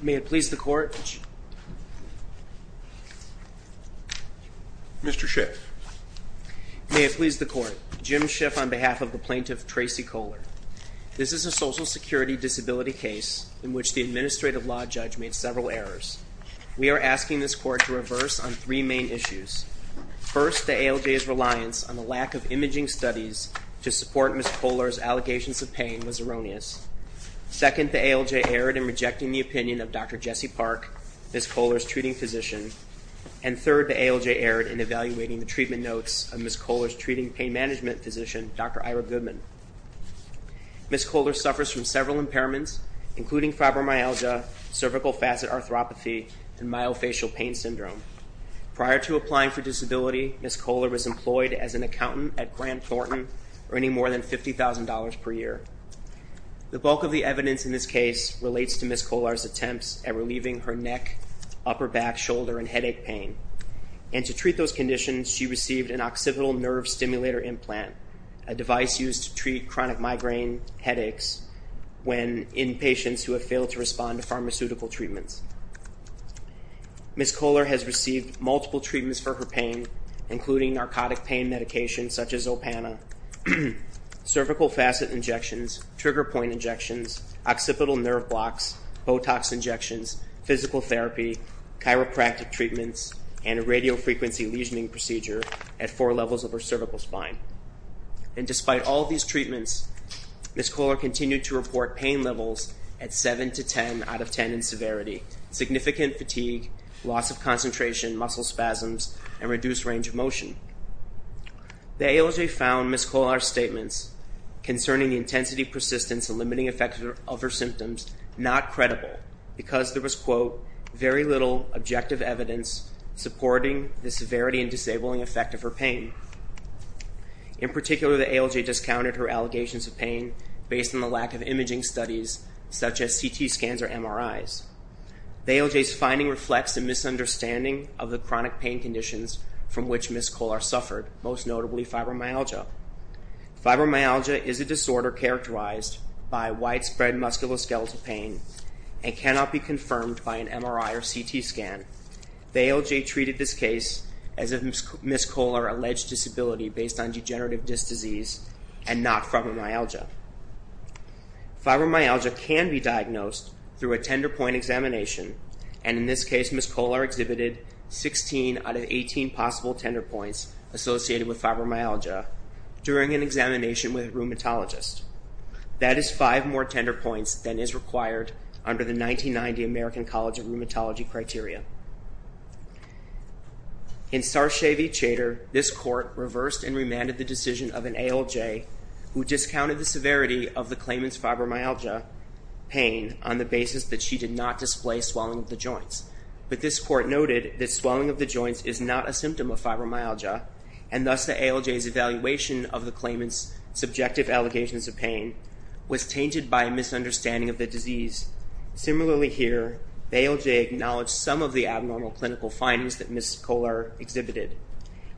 May it please the Court, Mr. Schiff. May it please the Court, Jim Schiff on behalf of the plaintiff Tracie Kolar. This is a social security disability case in which the administrative law judge made several errors. We are asking this Court to reverse on three main issues. First, the ALJ's reliance on the lack of imaging studies to support Ms. Kolar's allegations of pain was erroneous. Second, the ALJ erred in rejecting the opinion of Dr. Jesse Park, Ms. Kolar's treating physician. And third, the ALJ erred in evaluating the treatment notes of Ms. Kolar's treating pain management physician, Dr. Ira Goodman. Ms. Kolar suffers from several impairments including fibromyalgia, cervical facet arthropathy, and myofascial pain syndrome. Prior to applying for disability, Ms. Kolar was employed as an accountant at Grant Thornton earning more than $50,000 per year. The bulk of the evidence in this case relates to Ms. Kolar's attempts at relieving her neck, upper back, shoulder, and headache pain. And to treat those conditions, she received an occipital nerve stimulator implant, a device used to treat chronic migraine headaches in patients who have failed to respond to pharmaceutical treatments. Ms. Kolar has received multiple treatments for her pain including narcotic pain medication such as Opana, cervical facet injections, trigger point injections, occipital nerve blocks, Botox injections, physical therapy, chiropractic treatments, and a radiofrequency lesioning at four levels of her cervical spine. And despite all these treatments, Ms. Kolar continued to report pain levels at seven to ten out of ten in severity, significant fatigue, loss of concentration, muscle spasms, and reduced range of motion. The AOJ found Ms. Kolar's statements concerning the intensity, persistence, and limiting effects of her symptoms not credible because there was, quote, very little objective evidence supporting the severity and disabling effect of her pain. In particular, the AOJ discounted her allegations of pain based on the lack of imaging studies such as CT scans or MRIs. The AOJ's finding reflects a misunderstanding of the chronic pain conditions from which Ms. Kolar suffered, most notably fibromyalgia. Fibromyalgia is a disorder characterized by widespread musculoskeletal pain and cannot be confirmed by an MRI or CT scan. The AOJ treated this case as if Ms. Kolar alleged disability based on degenerative disc disease and not fibromyalgia. Fibromyalgia can be diagnosed through a tender point examination, and in this case Ms. Kolar exhibited 16 out of 18 possible tender points associated with fibromyalgia during an examination with a 90-90 American College of Rheumatology criteria. In Sarcevy-Chater, this court reversed and remanded the decision of an AOJ who discounted the severity of the claimant's fibromyalgia pain on the basis that she did not display swelling of the joints. But this court noted that swelling of the joints is not a symptom of fibromyalgia, and thus the AOJ's evaluation of the claimant's subjective allegations of pain was tainted by a misunderstanding of the disease. Similarly here, AOJ acknowledged some of the abnormal clinical findings that Ms. Kolar exhibited,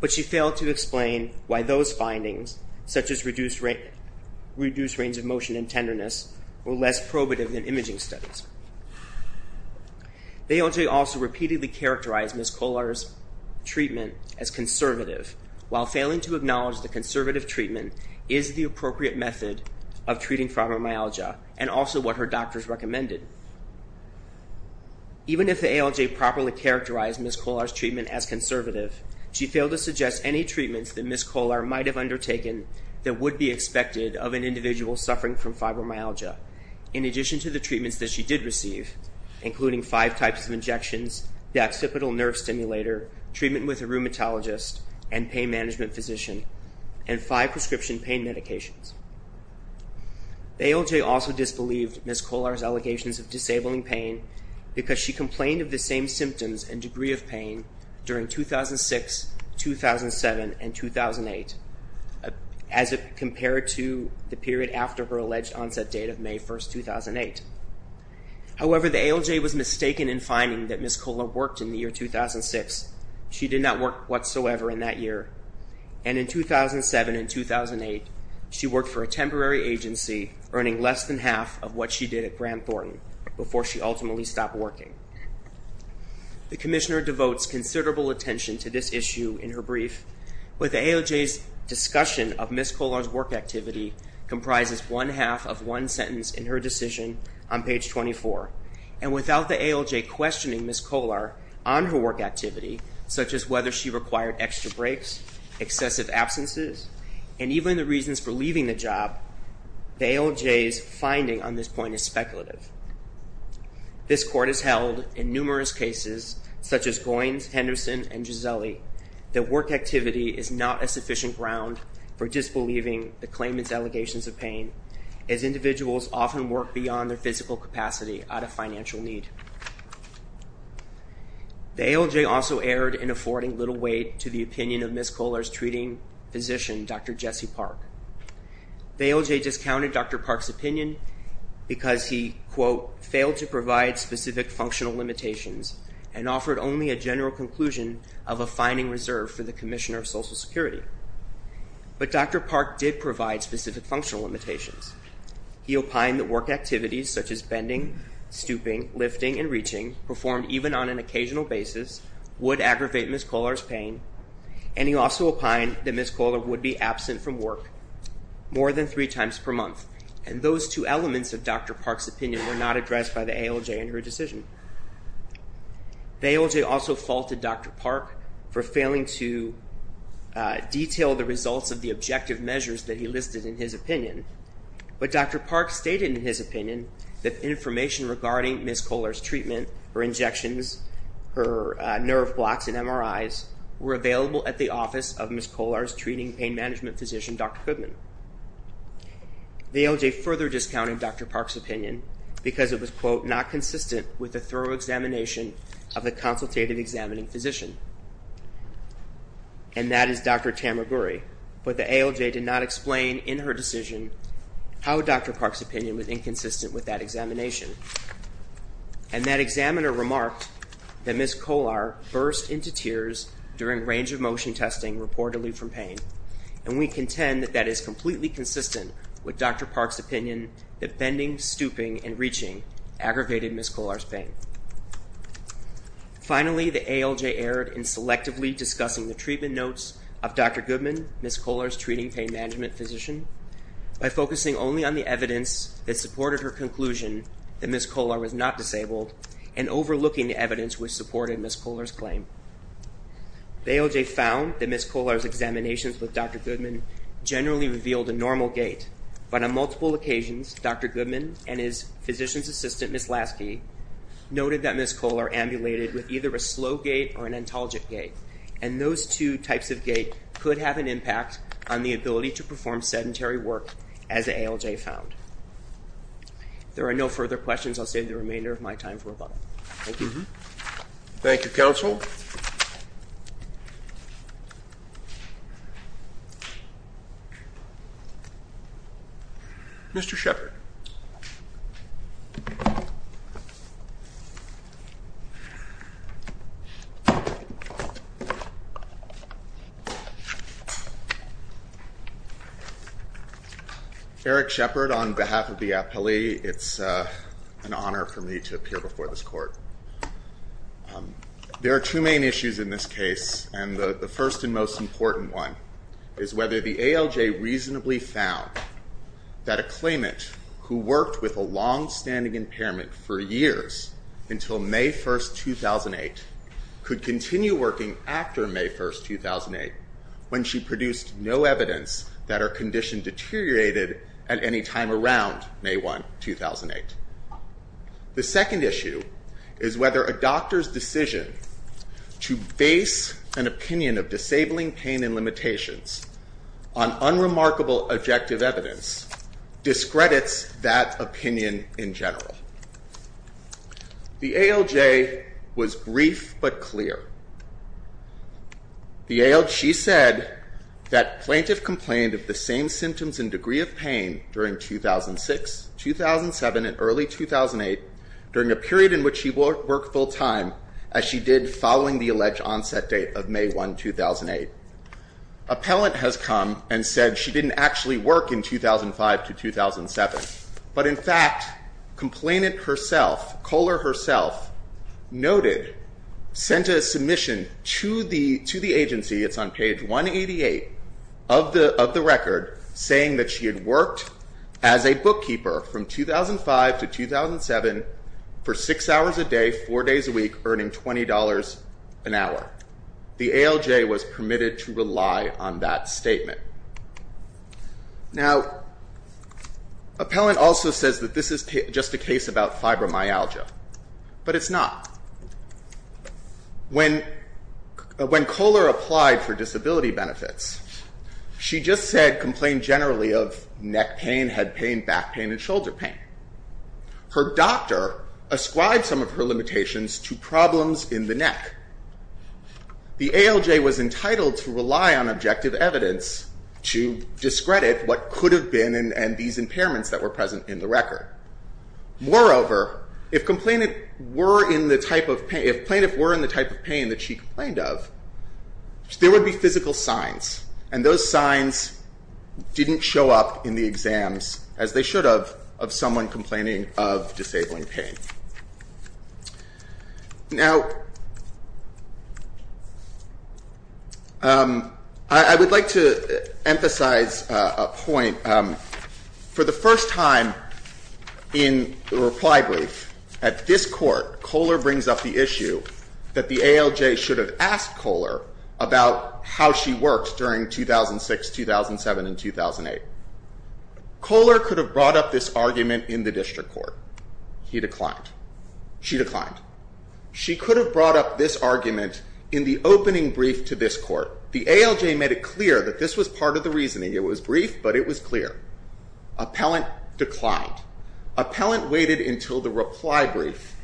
but she failed to explain why those findings, such as reduced range of motion and tenderness, were less probative than imaging studies. AOJ also repeatedly characterized Ms. Kolar's treatment as conservative, while failing to acknowledge that conservative treatment is the appropriate method of treating fibromyalgia, and also what her doctors recommended. Even if the AOJ properly characterized Ms. Kolar's treatment as conservative, she failed to suggest any treatments that Ms. Kolar might have undertaken that would be expected of an individual suffering from fibromyalgia, in addition to the treatments that she did receive, including five types of injections, the occipital nerve stimulator, treatment with a rheumatologist and pain management physician, and five prescription pain medications. AOJ also disbelieved Ms. Kolar's allegations of disabling pain because she complained of the same symptoms and degree of pain during 2006, 2007, and 2008, as compared to the period after her alleged onset date of May 1st, 2008. However, the AOJ was mistaken in finding that work whatsoever in that year, and in 2007 and 2008, she worked for a temporary agency earning less than half of what she did at Granthorne before she ultimately stopped working. The Commissioner devotes considerable attention to this issue in her brief, but the AOJ's discussion of Ms. Kolar's work activity comprises one half of one sentence in her decision on whether she required extra breaks, excessive absences, and even the reasons for leaving the job, the AOJ's finding on this point is speculative. This Court has held in numerous cases, such as Goynes, Henderson, and Gisele, that work activity is not a sufficient ground for disbelieving the claimant's allegations of pain, as individuals often work beyond their physical capacity out of financial need. The AOJ also erred in affording little weight to the opinion of Ms. Kolar's treating physician, Dr. Jesse Park. The AOJ discounted Dr. Park's opinion because he, quote, failed to provide specific functional limitations and offered only a general conclusion of a finding reserved for the Commissioner of Social Security, but Dr. Park did provide specific functional limitations. He opined that work activities, such as bending, stooping, lifting, and reaching, performed even on an occasional basis, would aggravate Ms. Kolar's pain, and he also opined that Ms. Kolar would be absent from work more than three times per month, and those two elements of Dr. Park's opinion were not addressed by the AOJ in her decision. The AOJ also faulted Dr. Park for failing to detail the results of the objective measures that he listed in his opinion, but Dr. Park stated in his opinion that information regarding Ms. Kolar's treatment, her injections, her nerve blocks, and MRIs were available at the office of Ms. Kolar's treating pain management physician, Dr. Goodman. The AOJ further discounted Dr. Park's opinion because it was, quote, not consistent with a thorough examination of the consultative examining physician, and that is Dr. Tamaguri, but the AOJ did not explain in her decision how Dr. Park's opinion was inconsistent with that examination, and that examiner remarked that Ms. Kolar burst into tears during range of motion testing reportedly from pain, and we contend that that is completely consistent with Dr. Park's opinion that bending, stooping, and reaching aggravated Ms. Kolar's pain. Finally, the AOJ erred in selectively discussing the treatment notes of Dr. Goodman, Ms. Kolar's treating pain management physician, by focusing only on the evidence that supported her conclusion that Ms. Kolar was not disabled, and overlooking the evidence which supported Ms. Kolar's claim. The AOJ found that Ms. Kolar's examinations with Dr. Goodman generally revealed a normal gait, but on multiple occasions, Dr. Goodman and his physician's assistant, Ms. Lasky, noted that Ms. Kolar ambulated with either a slow gait or an intolerant gait, and those two types of gait could have an impact on the ability to perform sedentary work, as the AOJ found. There are no further questions. I'll save the remainder of my time for a button. Thank you. Thank you, counsel. Mr. Shepard. Eric Shepard, on behalf of the appellee, it's an honor for me to appear before this court. There are two main issues in this case, and the first and most important one is whether the AOJ reasonably found that a claimant who worked with a longstanding impairment for years, until May 1st, 2008, could continue working after May 1st, 2008, when she produced no evidence that her condition deteriorated at any time around May 1st, 2008. The second issue is whether a doctor's decision to base an opinion of disabling pain and limitations on unremarkable objective evidence discredits that opinion in general. The AOJ was brief but clear. The AOJ said that plaintiff complained of the same symptoms and degree of pain during 2006, 2007, and early 2008, during a period in which she worked full-time as she did following the alleged onset date of May 1, 2008. Appellant has come and said she didn't actually work in 2005 to 2007, but in fact, complainant herself, Kohler herself, noted, sent a submission to the agency, it's on page 188 of the record, saying that she had worked as a bookkeeper from 2005 to 2007 for six hours a day, four days a week, earning $20 an hour. The AOJ was permitted to rely on that statement. Now appellant also says that this is just a case about fibromyalgia, but it's not. When Kohler applied for disability benefits, she just said, complained generally of neck pain, head pain, back pain, and shoulder pain. Her doctor ascribed some of her limitations to problems in the neck. The AOJ was entitled to rely on objective evidence to discredit what could have been and these impairments that were present in the record. Moreover, if complainant were in the type of pain, if plaintiff were in the type of pain that she complained of, there would be physical signs, and those signs didn't show up in the exams as they should have of someone complaining of disabling pain. Now I would like to emphasize a point. For the first time, I would like to emphasize in the reply brief, at this court, Kohler brings up the issue that the AOJ should have asked Kohler about how she worked during 2006, 2007, and 2008. Kohler could have brought up this argument in the district court. He declined. She declined. She could have brought up this argument in the opening brief to this court. The AOJ made it clear that this was part of the reasoning. It was brief, but it was clear. Appellant declined. Appellant waited until the reply brief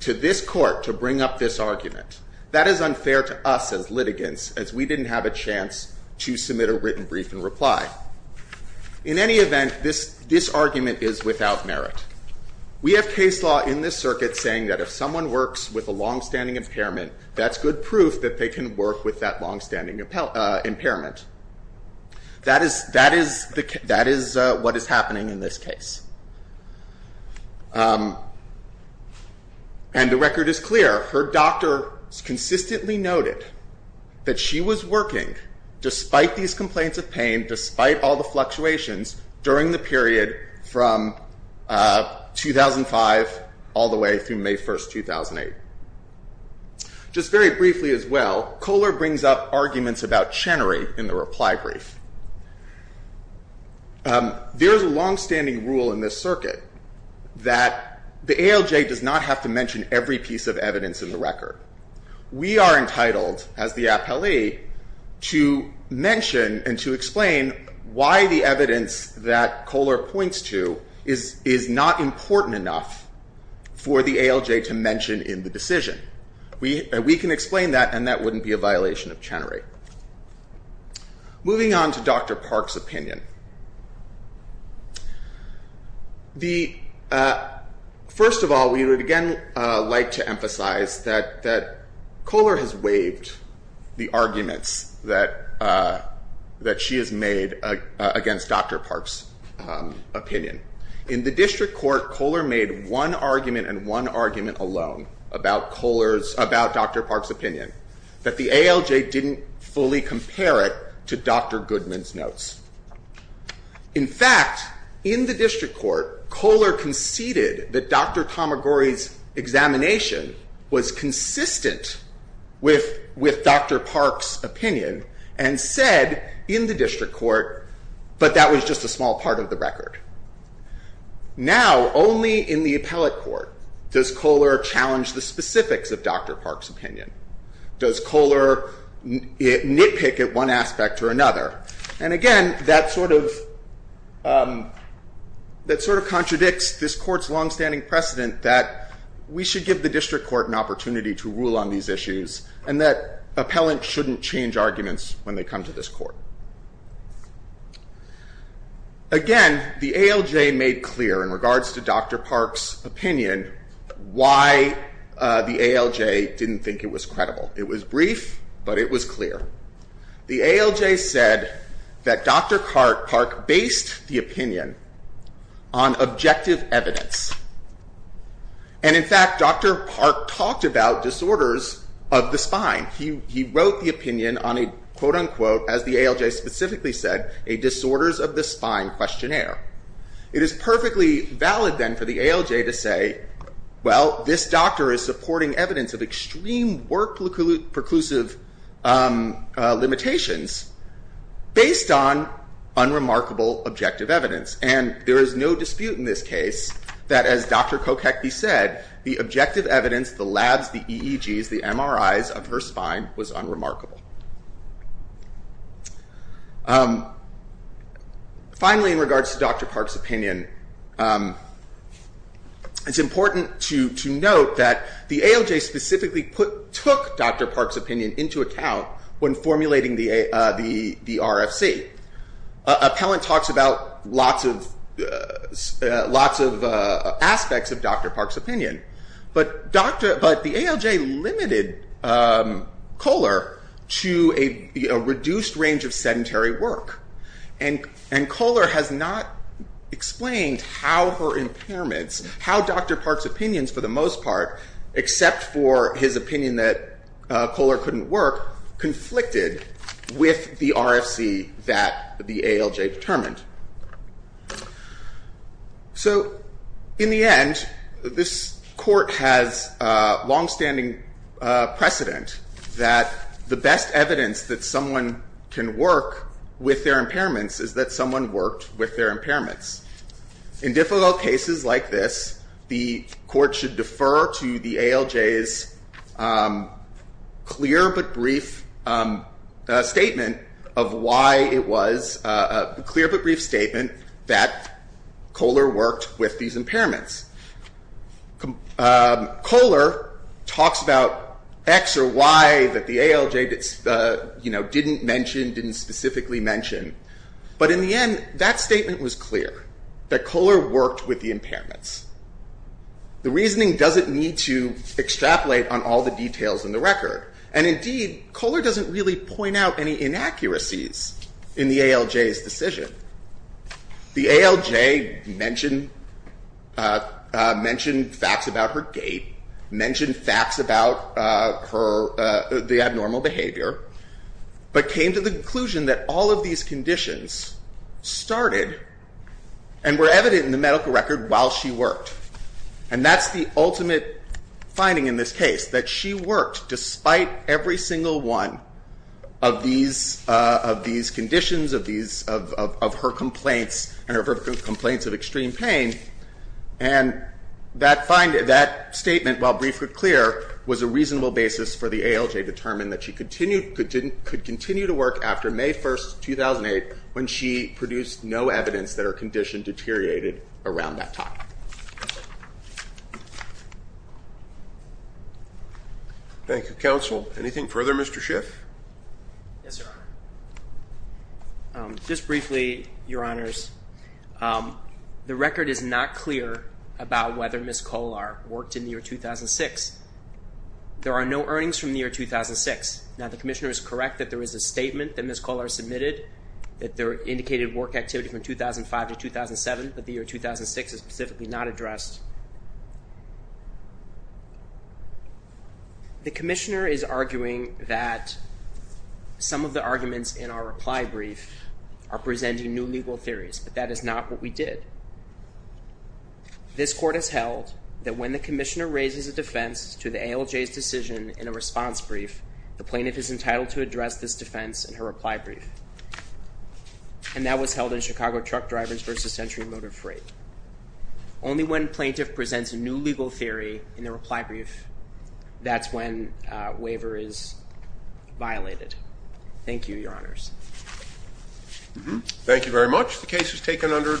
to this court to bring up this argument. That is unfair to us as litigants, as we didn't have a chance to submit a written brief and reply. In any event, this argument is without merit. We have case law in this circuit saying that if someone works with a longstanding impairment, that's good proof that they can work with that longstanding impairment. That is what is happening in this case. The record is clear. Her doctor consistently noted that she was working, despite these complaints of pain, despite all the fluctuations, during the period from 2005 all the way through May 1st, 2008. Just very briefly as well, Kohler brings up arguments about Chenery in the reply brief. There is a longstanding rule in this circuit that the AOJ does not have to mention every piece of evidence in the record. We are entitled, as the appellee, to mention and to explain why the evidence that Kohler points to is not important enough for the AOJ to mention in the decision. We can explain that and that wouldn't be a violation of Chenery. Moving on to Dr. Park's opinion. First of all, we would again like to emphasize that Kohler has waived the arguments that she has made against Dr. Park's opinion. In the district court, Kohler made one argument and one argument alone about Dr. Park's opinion, that the AOJ didn't fully compare it to Dr. Goodman's notes. In fact, in the district court, Kohler conceded that Dr. Tomigori's examination was consistent with Dr. Park's head in the district court, but that was just a small part of the record. Now, only in the appellate court does Kohler challenge the specifics of Dr. Park's opinion. Does Kohler nitpick at one aspect or another? Again, that sort of contradicts this court's longstanding precedent that we should give the district court an opportunity to rule on these issues and that appellants shouldn't change arguments when they come to this court. Again, the AOJ made clear in regards to Dr. Park's opinion why the AOJ didn't think it was credible. It was brief, but it was clear. The AOJ said that Dr. Park based the opinion on objective evidence. In fact, Dr. Park talked about disorders of the spine. He wrote the opinion on a, quote unquote, as the AOJ specifically said, a disorders of the spine questionnaire. It is perfectly valid then for the AOJ to say, well, this doctor is supporting evidence of extreme work preclusive limitations based on unremarkable objective evidence. There is no dispute in this case that as Dr. Kokecki said, the objective evidence, the labs, the EEGs, the MRIs of her spine was unremarkable. Finally, in regards to Dr. Park's opinion, it's important to note that the AOJ specifically took Dr. Park's opinion into account when formulating the RFC. Appellant talks about lots of aspects of Dr. Park's opinion, but the AOJ limited Kohler to a reduced range of sedentary work. Kohler has not explained how her impairments, how Dr. Park's opinions for the most part, except for his opinion that Kohler couldn't work, conflicted with the RFC that the AOJ determined. So in the end, this court has longstanding precedent that the best evidence that someone can work with their impairments is that someone worked with their impairments. In difficult cases like this, the court should defer to the AOJ's clear but brief statement that why it was a clear but brief statement that Kohler worked with these impairments. Kohler talks about X or Y that the AOJ didn't mention, didn't specifically mention, but in the end, that statement was clear, that Kohler worked with the impairments. The reasoning doesn't need to extrapolate on all the details in the record. Indeed, Kohler doesn't really point out any inaccuracies in the AOJ's decision. The AOJ mentioned facts about her gait, mentioned facts about the abnormal behavior, but came to the conclusion that all of these conditions started and were evident in the medical record while she worked, and that's the ultimate finding in this case, that she worked despite every single one of these conditions, of her complaints, and of her complaints of extreme pain, and that statement, while brief but clear, was a reasonable basis for the AOJ to determine that she could continue to work after May 1st, 2008, when she produced no evidence that her condition deteriorated around that time. Thank you, Counsel. Anything further, Mr. Schiff? Yes, Your Honor. Just briefly, Your Honors, the record is not clear about whether Ms. Kohler worked in the year 2006. There are no earnings from the year 2006. Now, the Commissioner is correct that there is a statement that Ms. Kohler submitted that indicated work activity from 2005 to 2007, but the year 2006 is specifically not addressed. The Commissioner is arguing that some of the arguments in our reply brief are presenting new legal theories, but that is not what we did. This Court has held that when the Commissioner raises a defense to the AOJ's decision in a response brief, the plaintiff is entitled to address this defense in her reply brief, and that was held in Chicago Truck Drivers v. Century Motor Freight. Only when a plaintiff presents a new legal theory in the reply brief, that's when a waiver is violated. Thank you, Your Honors. Thank you very much. The case is taken under